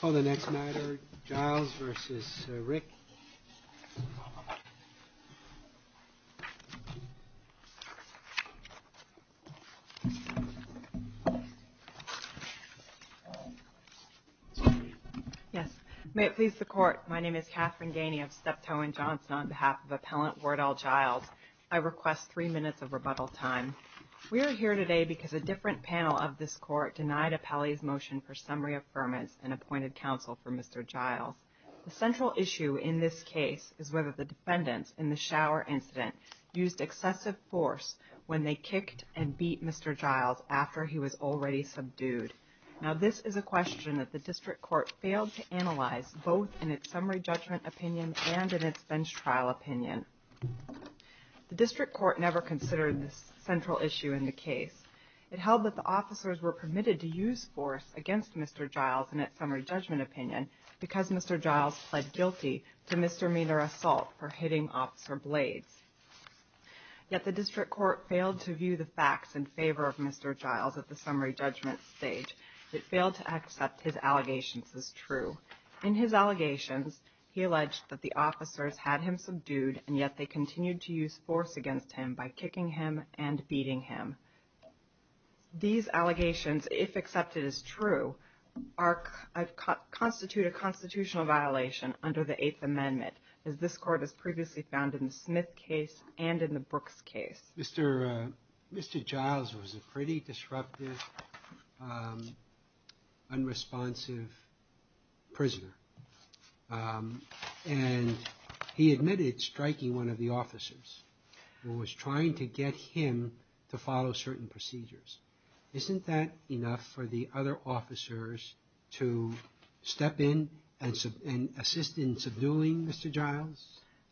Call the next nighter, Giles vs Rick Yes, may it please the court, my name is Katherine Ganey of Steptoe and Johnson on behalf of appellant Wardell Giles. I request three minutes of rebuttal time. We are here today because a different panel of this court denied appellee's motion for summary affirmance and appointed counsel for Mr. Giles. The central issue in this case is whether the defendants in the shower incident used excessive force when they kicked and beat Mr. Giles after he was already subdued. Now this is a question that the district court failed to analyze both in its summary judgment opinion and in its bench trial opinion. The district court never considered this central issue in the case. It held that the officers were permitted to use force against Mr. Giles in its summary judgment opinion because Mr. Giles pled guilty to misdemeanor assault for hitting officer blades. Yet the district court failed to view the facts in favor of Mr. Giles at the summary judgment stage. It failed to accept his allegations as true. In his allegations, he alleged that the officers had him subdued and yet they continued to use force against him by kicking him and beating him. These allegations, if accepted as true, constitute a constitutional violation under the 8th Amendment as this court has previously found in the Smith case and in the Brooks case. Mr. Giles was a pretty disruptive, unresponsive prisoner. And he admitted striking one of the officers and was trying to get him to follow certain procedures. Isn't that enough for the other officers to step in and assist in subduing Mr. Giles?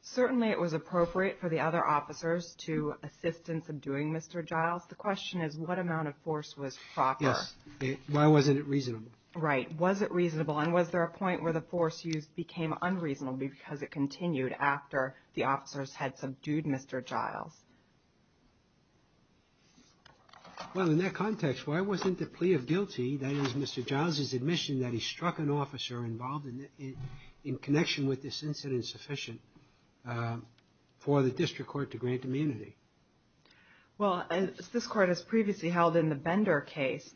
Certainly it was appropriate for the other officers to assist in subduing Mr. Giles. The question is, what amount of force was proper? Yes. Why wasn't it reasonable? Right. Was it reasonable? And was there a point where the force used became unreasonable because it continued after the officers had subdued Mr. Giles? Well, in that context, why wasn't the plea of guilty, that is, Mr. Giles's admission that he struck an officer involved in connection with this incident sufficient for the district court to grant immunity? Well, as this court has previously held in the Bender case,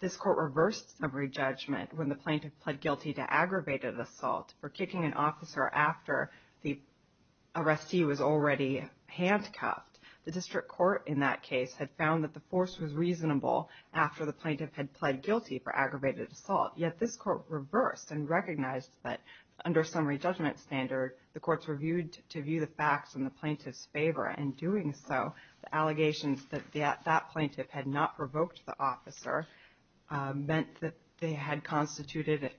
this court reversed summary judgment when the plaintiff pled guilty to aggravated assault for kicking an officer after the arrestee was already handcuffed. The district court in that case had found that the force was reasonable after the plaintiff had pled guilty for aggravated assault. Yet this court reversed and recognized that under summary judgment standard, the courts were viewed to view the facts in the plaintiff's favor, and in doing so, the allegations that that plaintiff had not provoked the officer meant that they had constituted,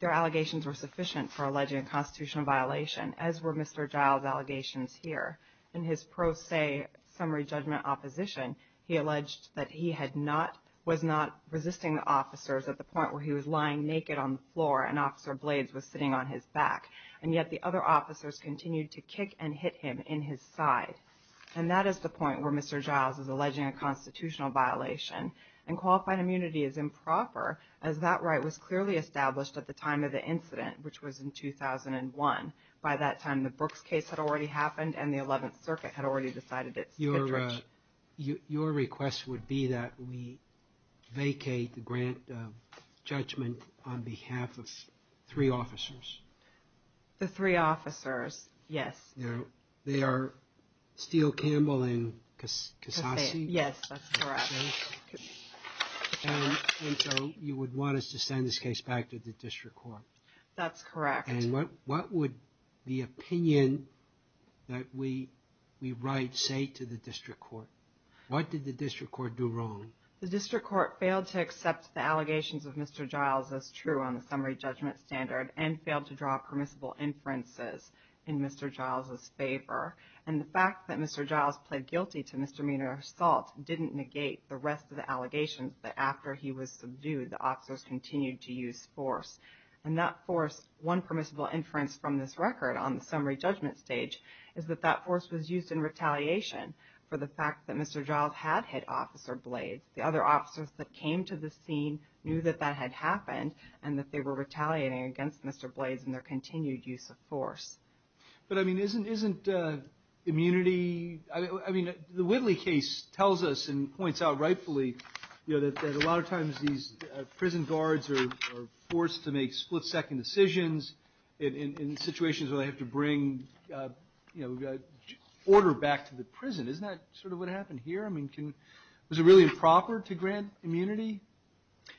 their allegations were sufficient for alleging a constitutional violation, as were Mr. Giles's allegations here. In his pro se summary judgment opposition, he alleged that he was not resisting the officers at the point where he was lying naked on the floor and Officer Blades was sitting on his back, and yet the other officers continued to kick and hit him in his side. And that is the point where Mr. Giles is alleging a constitutional violation, and qualified immunity is improper, as that right was clearly established at the time of the incident, which was in 2001. By that time, the Brooks case had already happened, and the 11th Circuit had already decided it was too much. Your request would be that we vacate the grant of judgment on behalf of three officers? The three officers, yes. They are Steele, Campbell, and Cassasi? Yes, that's correct. And so you would want us to send this case back to the District Court? That's correct. And what would the opinion that we write say to the District Court? What did the District Court do wrong? The District Court failed to accept the allegations of Mr. Giles as true on the summary judgment standard, and failed to draw permissible inferences in Mr. Giles's favor. And the fact that Mr. Giles pled guilty to misdemeanor assault didn't negate the rest of the allegations that after he was subdued, the officers continued to use force. And that force, one permissible inference from this record on the summary judgment stage, is that that force was used in retaliation for the fact that Mr. Giles had hit Officer Blades. The other officers that came to the scene knew that that had happened, and that they were retaliating against Mr. Blades in their continued use of force. But I mean, isn't immunity, I mean, the Whitley case tells us and points out rightfully, you know, officers are forced to make split-second decisions in situations where they have to bring, you know, order back to the prison. Isn't that sort of what happened here? I mean, was it really improper to grant immunity?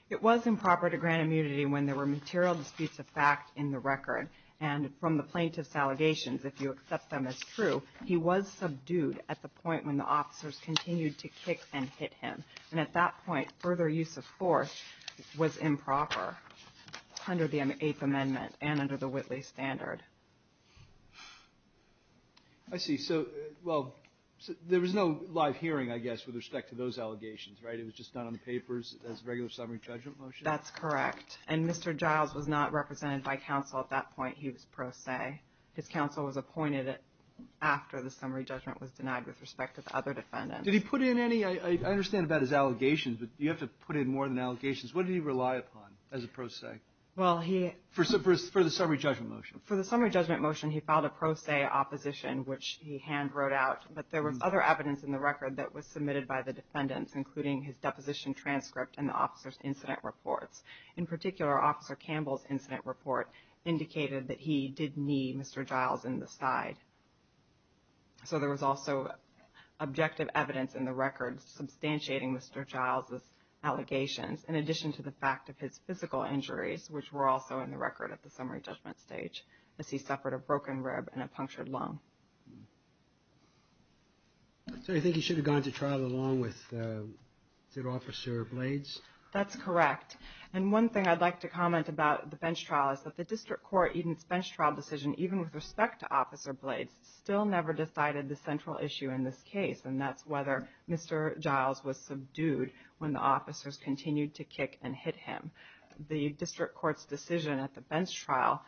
It was improper to grant immunity when there were material disputes of fact in the record. And from the plaintiff's allegations, if you accept them as true, he was subdued at the point when the officers continued to kick and hit him. And at that point, further use of force was improper under the Eighth Amendment and under the Whitley standard. I see. So, well, there was no live hearing, I guess, with respect to those allegations, right? It was just done on the papers as a regular summary judgment motion? That's correct. And Mr. Giles was not represented by counsel at that point. He was pro se. His counsel was appointed after the summary judgment was denied with respect to the other defendants. Did he put in any? I understand about his allegations, but do you have to put in more than allegations? What did he rely upon as a pro se? Well, he... For the summary judgment motion. For the summary judgment motion, he filed a pro se opposition, which he hand wrote out. But there was other evidence in the record that was submitted by the defendants, including his deposition transcript and the officer's incident reports. In particular, Officer Campbell's incident report indicated that he did knee Mr. Giles in the side. So, there was also objective evidence in the record substantiating Mr. Giles' allegations, in addition to the fact of his physical injuries, which were also in the record at the summary judgment stage, as he suffered a broken rib and a punctured lung. So, you think he should have gone to trial along with, is it, Officer Blades? That's correct. And one thing I'd like to comment about the bench trial is that the district court evens still never decided the central issue in this case, and that's whether Mr. Giles was subdued when the officers continued to kick and hit him. The district court's decision at the bench trial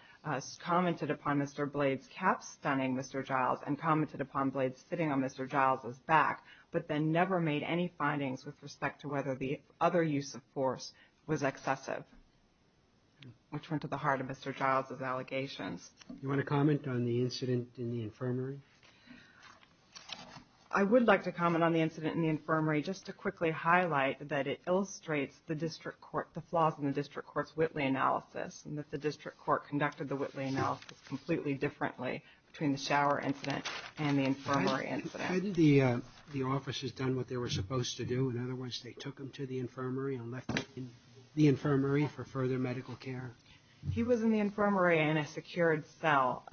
commented upon Mr. Blades' calf stunning Mr. Giles and commented upon Blades sitting on Mr. Giles' back, but then never made any findings with respect to whether the other use of force was excessive, which went to the heart of Mr. Giles' allegations. Do you want to comment on the incident in the infirmary? I would like to comment on the incident in the infirmary, just to quickly highlight that it illustrates the district court, the flaws in the district court's Whitley analysis, and that the district court conducted the Whitley analysis completely differently between the shower incident and the infirmary incident. Had the officers done what they were supposed to do? In other words, they took him to the infirmary and left him in the infirmary for further medical care? He was in the infirmary in a secured cell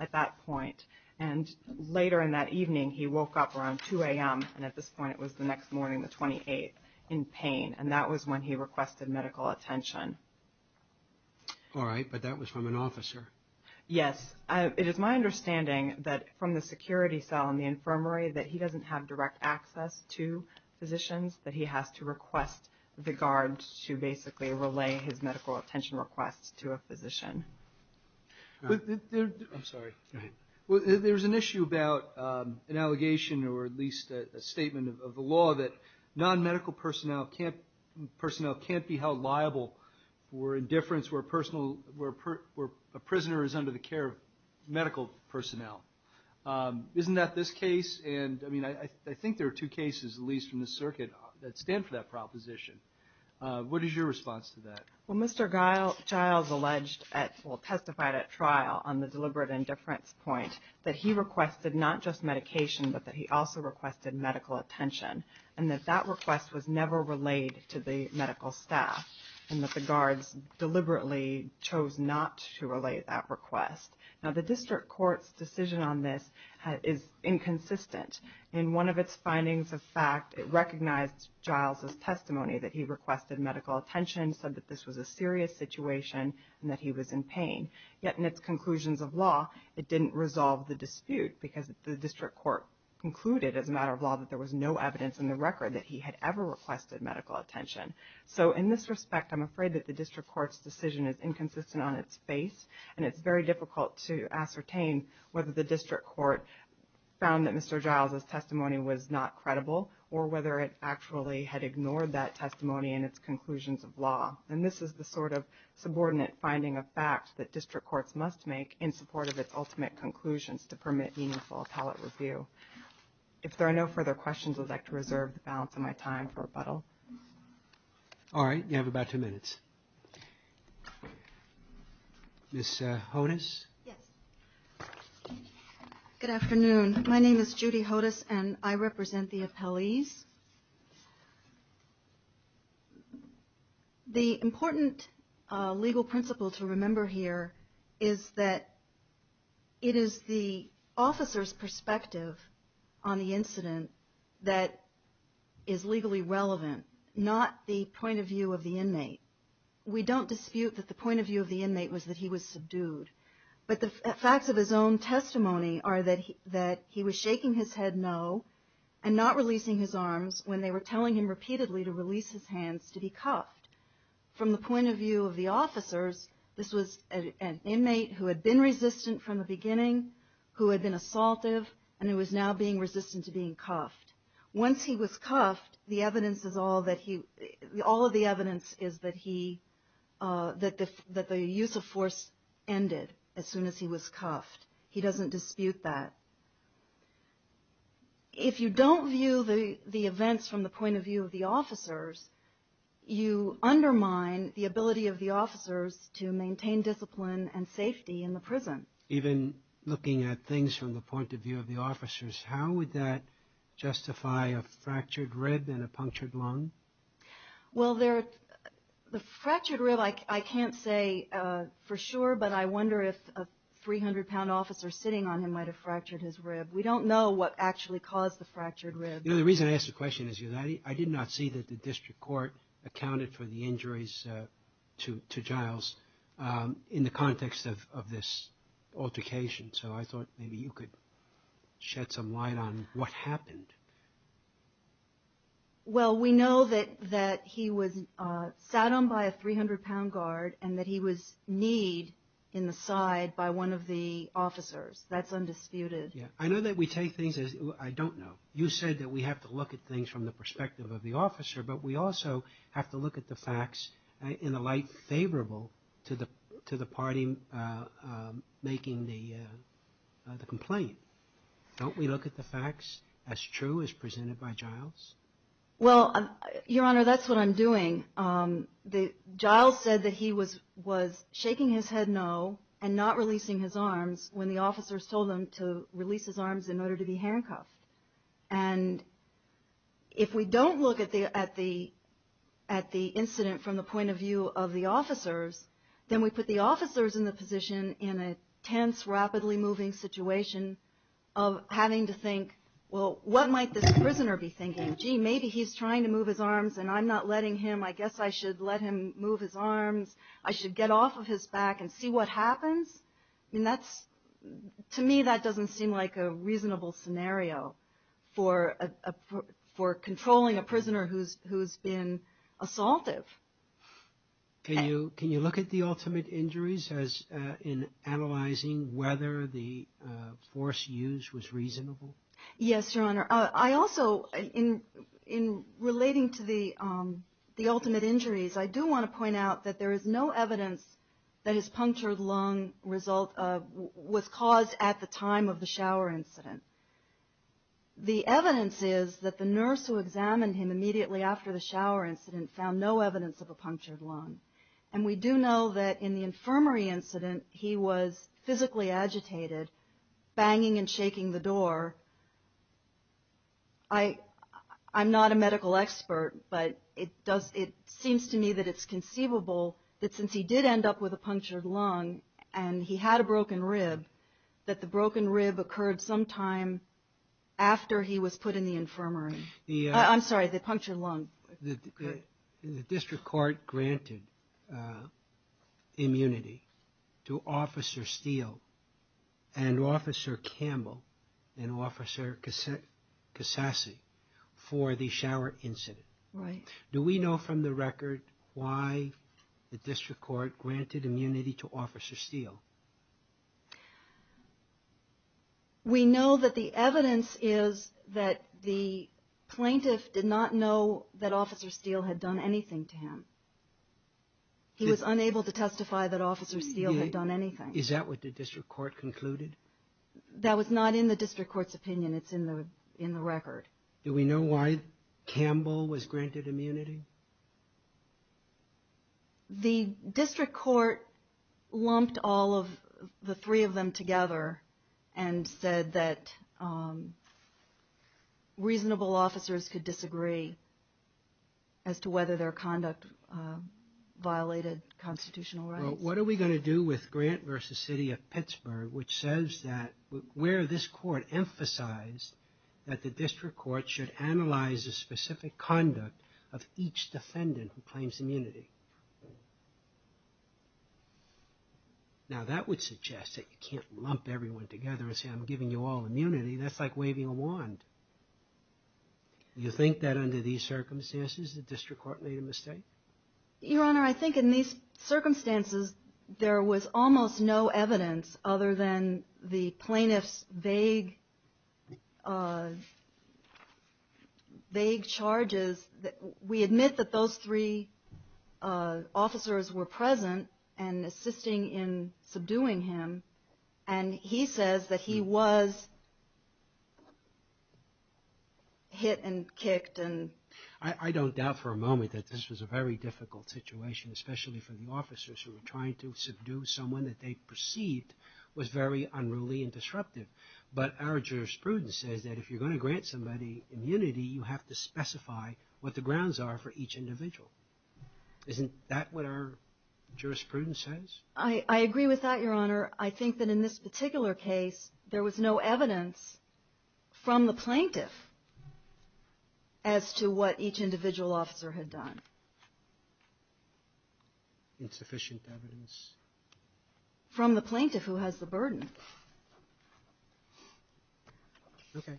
at that point, and later in that evening, he woke up around 2 a.m., and at this point it was the next morning, the 28th, in pain, and that was when he requested medical attention. All right, but that was from an officer. Yes. It is my understanding that from the security cell in the infirmary that he doesn't have direct access to physicians, that he has to request the guards to basically relay his medical attention requests to a physician. I'm sorry. Go ahead. Well, there's an issue about an allegation, or at least a statement of the law, that non-medical personnel can't be held liable for indifference where a prisoner is under the care of medical personnel. Isn't that this case, and I mean, I think there are two cases, at least from the circuit, that stand for that proposition. What is your response to that? Well, Mr. Giles alleged, well, testified at trial on the deliberate indifference point that he requested not just medication, but that he also requested medical attention, and that that request was never relayed to the medical staff, and that the guards deliberately chose not to relay that request. Now, the district court's decision on this is inconsistent. In one of its findings of fact, it recognized Giles' testimony that he requested medical attention, said that this was a serious situation, and that he was in pain, yet in its conclusions of law, it didn't resolve the dispute because the district court concluded, as a matter of law, that there was no evidence in the record that he had ever requested medical attention. So, in this respect, I'm afraid that the district court's decision is inconsistent on its face, and it's very difficult to ascertain whether the district court found that Mr. Giles' testimony was not credible, or whether it actually had ignored that testimony in its conclusions of law. And this is the sort of subordinate finding of fact that district courts must make in support of its ultimate conclusions to permit meaningful appellate review. If there are no further questions, I'd like to reserve the balance of my time for rebuttal. All right. You have about two minutes. Ms. Hodes? Yes. Good afternoon. My name is Judy Hodes, and I represent the appellees. The important legal principle to remember here is that it is the officer's perspective on the incident that is legally relevant, not the point of view of the inmate. We don't dispute that the point of view of the inmate was that he was subdued. But the facts of his own testimony are that he was shaking his head no and not releasing his arms when they were telling him repeatedly to release his hands to be cuffed. From the point of view of the officers, this was an inmate who had been resistant from the beginning, who had been assaultive, and who is now being resistant to being cuffed. Once he was cuffed, all of the evidence is that the use of force ended as soon as he was cuffed. He doesn't dispute that. If you don't view the events from the point of view of the officers, you undermine the ability of the officers to maintain discipline and safety in the prison. Even looking at things from the point of view of the officers, how would that justify a fractured rib and a punctured lung? Well, the fractured rib, I can't say for sure, but I wonder if a 300-pound officer sitting on him might have fractured his rib. We don't know what actually caused the fractured rib. You know, the reason I ask the question is because I did not see that the district court accounted for the injuries to Giles in the context of this altercation. So I thought maybe you could shed some light on what happened. Well, we know that he was sat on by a 300-pound guard and that he was kneed in the side by one of the officers. That's undisputed. I know that we take things, I don't know, you said that we have to look at things from the perspective of the officer, but we also have to look at the facts in a light favorable to the party making the complaint. Don't we look at the facts as true as presented by Giles? Well, Your Honor, that's what I'm doing. Giles said that he was shaking his head no and not releasing his arms when the officers told them to release his arms in order to be handcuffed. And if we don't look at the incident from the point of view of the officers, then we put the officers in the position in a tense, rapidly moving situation of having to think, well, what might this prisoner be thinking? Gee, maybe he's trying to move his arms and I'm not letting him. I guess I should let him move his arms. I should get off of his back and see what happens. I mean, that's, to me, that doesn't seem like a reasonable scenario for controlling a prisoner who's been assaultive. Can you look at the ultimate injuries as in analyzing whether the force used was reasonable? Yes, Your Honor. I also, in relating to the ultimate injuries, I do want to point out that there is no evidence that his punctured lung was caused at the time of the shower incident. The evidence is that the nurse who examined him immediately after the shower incident found no evidence of a punctured lung. And we do know that in the infirmary incident, he was physically agitated, banging and shaking the door. I'm not a medical expert, but it seems to me that it's conceivable that since he did end up with a punctured lung and he had a broken rib, that the broken rib occurred sometime after he was put in the infirmary. I'm sorry, the punctured lung. The district court granted immunity to Officer Steele and Officer Campbell and Officer Cassasi for the shower incident. Right. Do we know from the record why the district court granted immunity to Officer Steele? We know that the evidence is that the plaintiff did not know that Officer Steele had done anything to him. He was unable to testify that Officer Steele had done anything. Is that what the district court concluded? That was not in the district court's opinion. It's in the record. Do we know why Campbell was granted immunity? The district court lumped all of the three of them together and said that reasonable officers could disagree as to whether their conduct violated constitutional rights. Well, what are we going to do with Grant v. City of Pittsburgh, which says that where this court emphasized that the district court should analyze the specific conduct of each defendant who claims immunity? Now, that would suggest that you can't lump everyone together and say I'm giving you all immunity. That's like waving a wand. Do you think that under these circumstances the district court made a mistake? Your Honor, I think in these circumstances there was almost no evidence other than the plaintiff's vague charges that we admit that those three officers were present and assisting in subduing him. And he says that he was hit and kicked. I don't doubt for a moment that this was a very difficult situation, especially for the officers who were trying to subdue someone that they perceived was very unruly and disruptive. But our jurisprudence says that if you're going to grant somebody immunity, you have to specify what the grounds are for each individual. Isn't that what our jurisprudence says? I agree with that, Your Honor. I think that in this particular case there was no evidence from the plaintiff as to what each individual officer had done. Insufficient evidence. From the plaintiff who has the burden. Okay.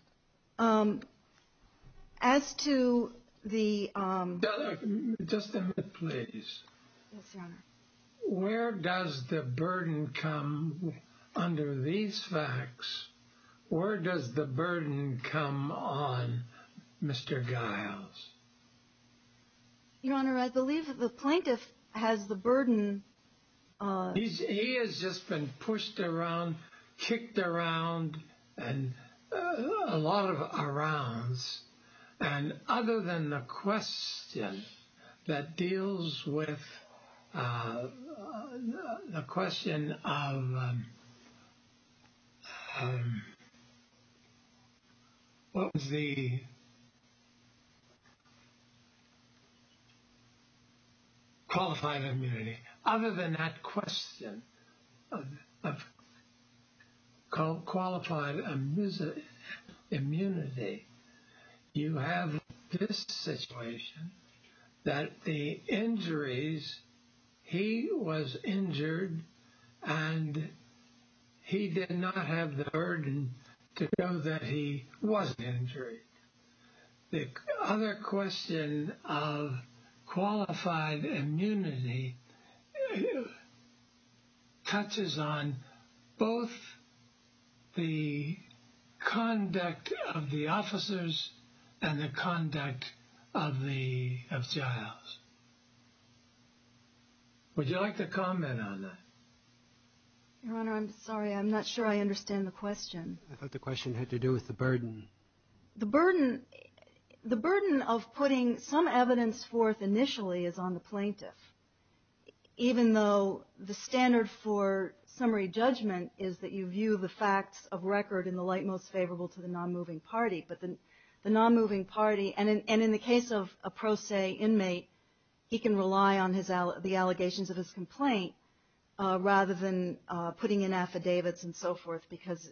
As to the... Just a minute, please. Yes, Your Honor. Where does the burden come under these facts? Where does the burden come on Mr. Giles? Your Honor, I believe the plaintiff has the burden... He has just been pushed around, kicked around, and a lot of arounds. And other than the question that deals with the question of... What was the... Qualifying immunity. Other than that question of qualified immunity, you have this situation that the injuries... He was injured and he did not have the burden to know that he was injured. The other question of qualified immunity touches on both the conduct of the officers and the conduct of Giles. Would you like to comment on that? Your Honor, I'm sorry. I'm not sure I understand the question. I thought the question had to do with the burden. The burden of putting some evidence forth initially is on the plaintiff. Even though the standard for summary judgment is that you view the facts of record in the light most favorable to the non-moving party. But the non-moving party... And in the case of a pro se inmate, he can rely on the allegations of his complaint rather than putting in affidavits and so forth because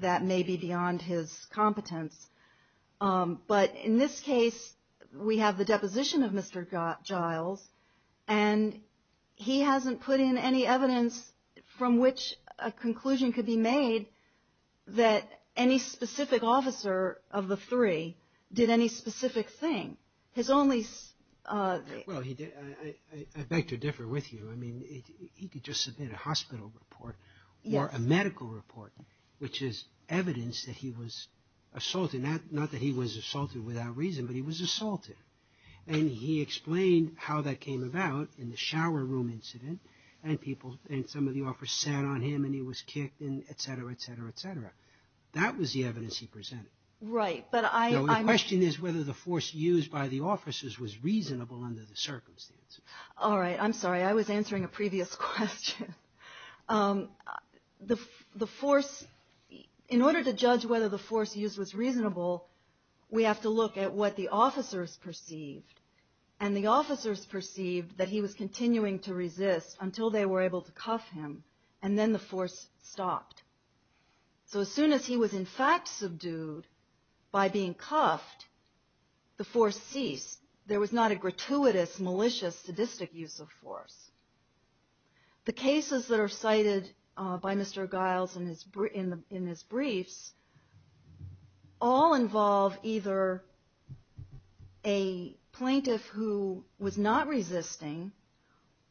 that may be beyond his competence. But in this case, we have the deposition of Mr. Giles and he hasn't put in any evidence from which a conclusion could be made that any specific officer of the three did any specific thing. His only... Well, I beg to differ with you. I mean, he could just submit a hospital report or a medical report, which is evidence that he was assaulted. Not that he was assaulted without reason, but he was assaulted. And he explained how that came about in the shower room incident and people and some of the officers sat on him and he was kicked and et cetera, et cetera, et cetera. That was the evidence he presented. Right, but I... The question is whether the force used by the officers was reasonable under the circumstance. All right, I'm sorry. I was answering a previous question. The force... In order to judge whether the force used was reasonable, we have to look at what the officers perceived. And the officers perceived that he was continuing to resist until they were able to cuff him and then the force stopped. So as soon as he was in fact subdued by being cuffed, the force ceased. There was not a gratuitous, malicious, sadistic use of force. The cases that are cited by Mr. Giles in his briefs all involve either a plaintiff who was not resisting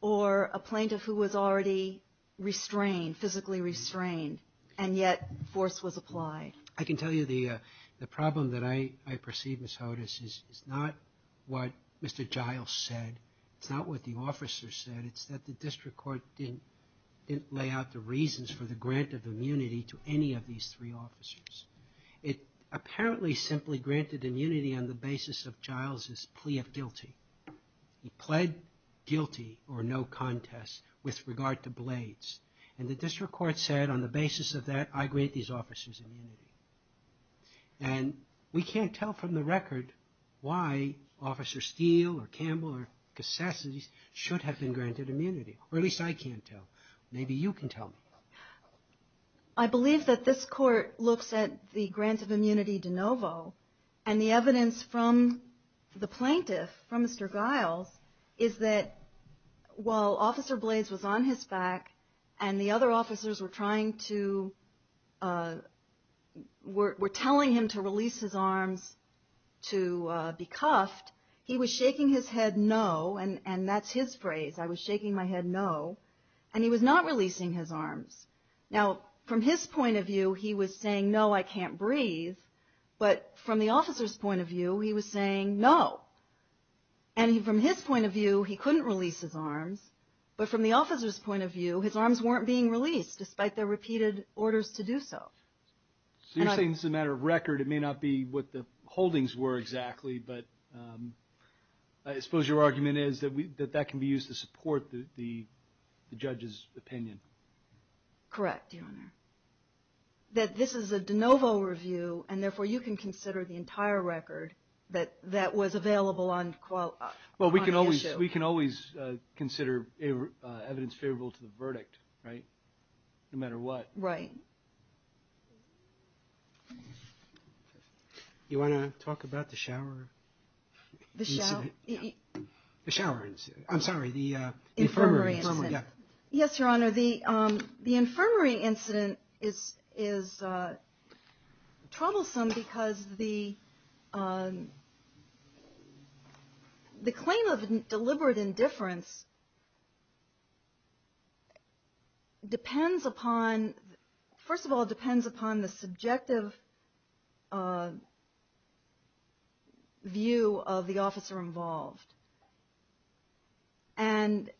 or a plaintiff who was already restrained, physically restrained, and yet force was applied. I can tell you the problem that I perceive, Ms. Hodes, is not what Mr. Giles said. It's not what the officers said. It's that the district court didn't lay out the reasons for the grant of immunity to any of these three officers. It apparently simply granted immunity on the basis of Giles's plea of guilty. He pled guilty, or no contest, with regard to blades. And the district court said, on the basis of that, I grant these officers immunity. And we can't tell from the record why Officer Steele or Campbell or Cassassas should have been granted immunity, or at least I can't tell. Maybe you can tell me. I believe that this court looks at the grant of immunity de novo, and the evidence from the plaintiff, from Mr. Giles, is that while Officer Blades was on his back and the other officers were trying to, were telling him to release his arms to be cuffed, he was shaking his head no, and that's his phrase. I was shaking my head no, and he was not releasing his arms. Now, from his point of view, he was saying, no, I can't breathe. But from the officer's point of view, he was saying no. And from his point of view, he couldn't release his arms. But from the officer's point of view, his arms weren't being released, despite their repeated orders to do so. So you're saying, as a matter of record, it may not be what the holdings were exactly, but I suppose your argument is that that can be used to support the judge's opinion. Correct, Your Honor. That this is a de novo review, and therefore you can consider the entire record that was available on the issue. Well, we can always consider evidence favorable to the verdict, right? No matter what. Right. Do you want to talk about the shower incident? The shower? The shower incident. I'm sorry, the infirmary incident. Yes, Your Honor. The infirmary incident is troublesome because the claim of deliberate indifference depends upon, first of all, depends upon the subjective view of the officer involved. And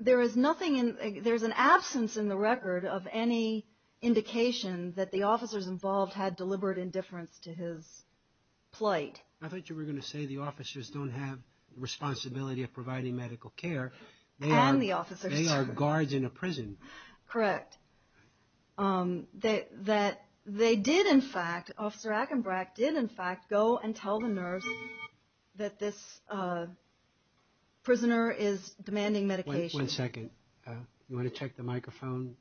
there is nothing, there's an absence in the record of any indication that the officers involved had deliberate indifference to his plight. I thought you were going to say the officers don't have the responsibility of providing medical care. And the officers do. They are guards in a prison. Correct. That they did, in fact, Officer Akenbrack did, in fact, go and tell the nerves that this prisoner is demanding medication. One second. You want to check the microphone?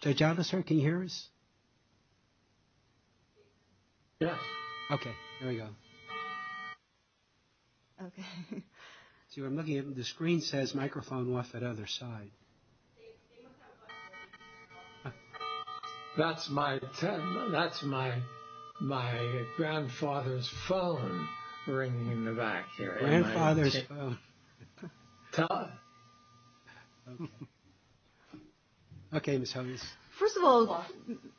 Judge Officer, can you hear us? Yeah. Okay, there we go. Okay. See what I'm looking at? The screen says microphone off at other side. That's my grandfather's phone ringing in the back there. Grandfather's phone. Tell us. Okay, Ms. Huggins. First of all,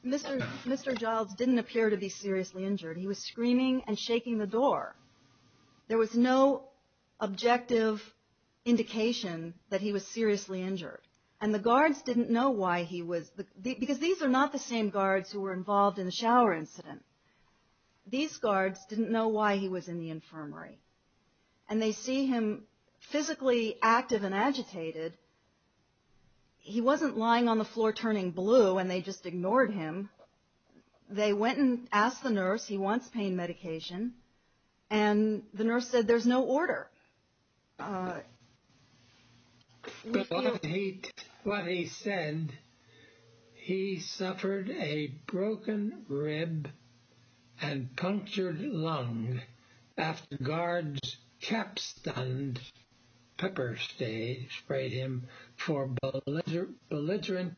Mr. Giles didn't appear to be seriously injured. He was screaming and shaking the door. There was no objective indication that he was seriously injured. And the guards didn't know why he was. Because these are not the same guards who were involved in the shower incident. These guards didn't know why he was in the infirmary. And they see him physically active and agitated. He wasn't lying on the floor turning blue, and they just ignored him. They went and asked the nurse. He wants pain medication. And the nurse said, there's no order. But what he said, he suffered a broken rib and punctured lung. After guards cap stunned, pepper spray him for belligerent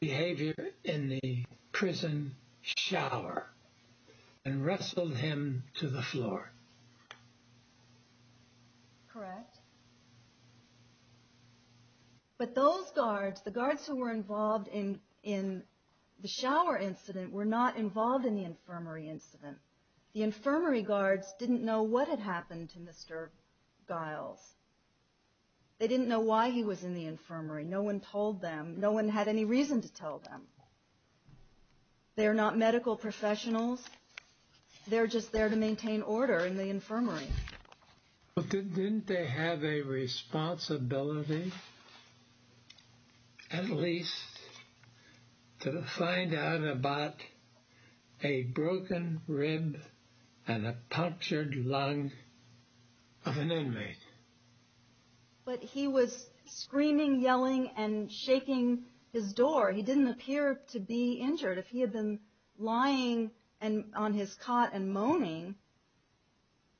behavior in the prison shower. And wrestled him to the floor. Correct. But those guards, the guards who were involved in the shower incident were not involved in the infirmary incident. The infirmary guards didn't know what had happened to Mr. Giles. They didn't know why he was in the infirmary. No one told them. No one had any reason to tell them. They are not medical professionals. They're just there to maintain order in the infirmary. But didn't they have a responsibility, at least, to find out about a broken rib and a punctured lung of an inmate? But he was screaming, yelling, and shaking his door. He didn't appear to be injured. If he had been lying on his cot and moaning,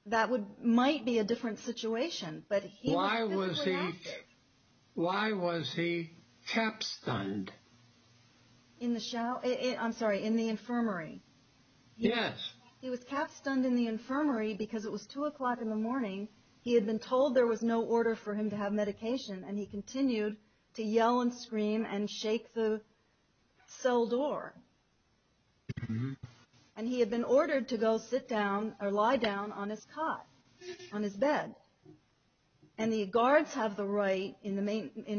that might be a different situation. Why was he cap stunned? I'm sorry, in the infirmary. Yes. He was cap stunned in the infirmary because it was two o'clock in the morning. He had been told there was no order for him to have medication. And he continued to yell and scream and shake the cell door. And he had been ordered to go sit down or lie down on his cot, on his bed. And the guards have the right, in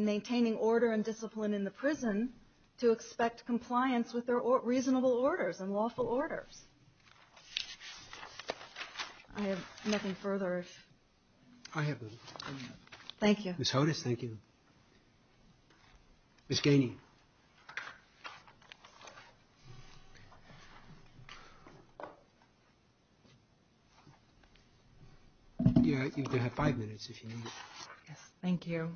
maintaining order and discipline in the prison, to expect compliance with their reasonable orders and lawful orders. I have nothing further. Thank you. Ms. Hodes, thank you. Ms. Ganey. You have five minutes, if you need it. Yes, thank you.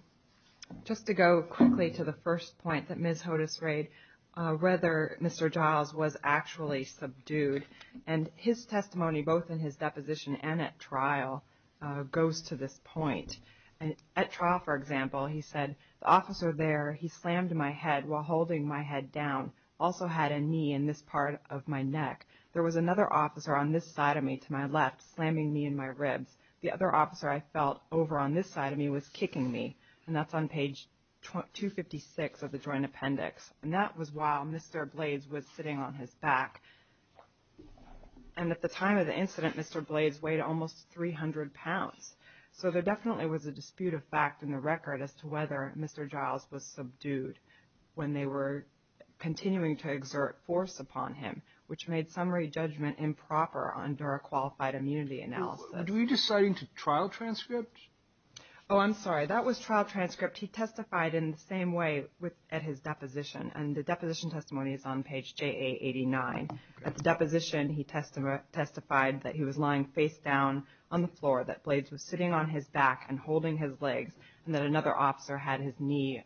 Just to go quickly to the first point that Ms. Hodes raised, whether Mr. Giles was actually subdued. And his testimony, both in his deposition and at trial, goes to this point. At trial, for example, he said, the officer there, he slammed my head while holding my head down, also had a knee in this part of my neck. There was another officer on this side of me to my left, slamming me in my ribs. The other officer I felt over on this side of me was kicking me. And that's on page 256 of the joint appendix. And that was while Mr. Blades was sitting on his back. And at the time of the incident, Mr. Blades weighed almost 300 pounds. So there definitely was a dispute of fact in the record as to whether Mr. Giles was subdued when they were continuing to exert force upon him, which made summary judgment improper under a qualified immunity analysis. Were you deciding to trial transcript? Oh, I'm sorry. That was trial transcript. He testified in the same way at his deposition. And the deposition testimony is on page JA89. At the deposition, he testified that he was lying face down on the floor that Blades was sitting on his back and holding his legs, and that another officer had his knee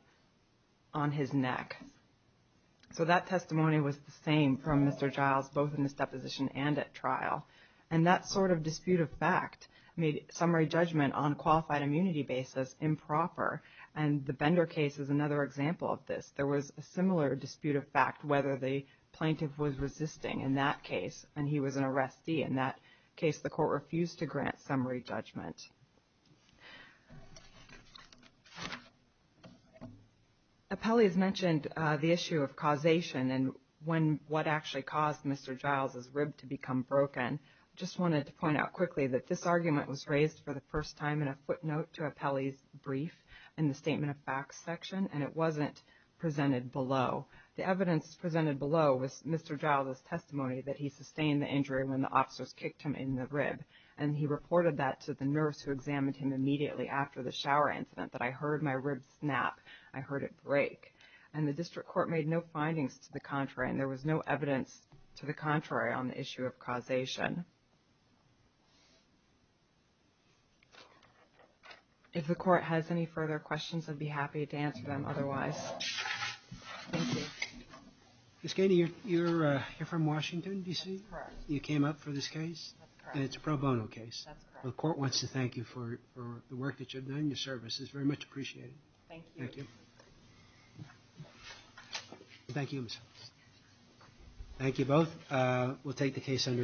on his neck. So that testimony was the same from Mr. Giles, both in this deposition and at trial. And that sort of dispute of fact made summary judgment on qualified immunity basis improper. And the Bender case is another example of this. There was a similar dispute of fact whether the plaintiff was resisting in that case, and he was an arrestee. In that case, the court refused to grant summary judgment. Appellee has mentioned the issue of causation and what actually caused Mr. Giles' rib to become broken. I just wanted to point out quickly that this argument was raised for the first time in a footnote to Appellee's brief in the statement of facts section, and it wasn't presented below. The evidence presented below was Mr. Giles' testimony that he sustained the injury when the officers kicked him in the rib. And he reported that to the nurse who examined him immediately after the shower incident, that I heard my rib snap. I heard it break. And the district court made no findings to the contrary, and there was no evidence to the contrary on the issue of causation. If the court has any further questions, I'd be happy to answer them otherwise. Thank you. Ms. Gainey, you're from Washington, D.C.? Correct. You came up for this case? That's correct. And it's a pro bono case? That's correct. The court wants to thank you for the work that you've done. Your service is very much appreciated. Thank you. Thank you. Thank you both. We'll take the case under advisement.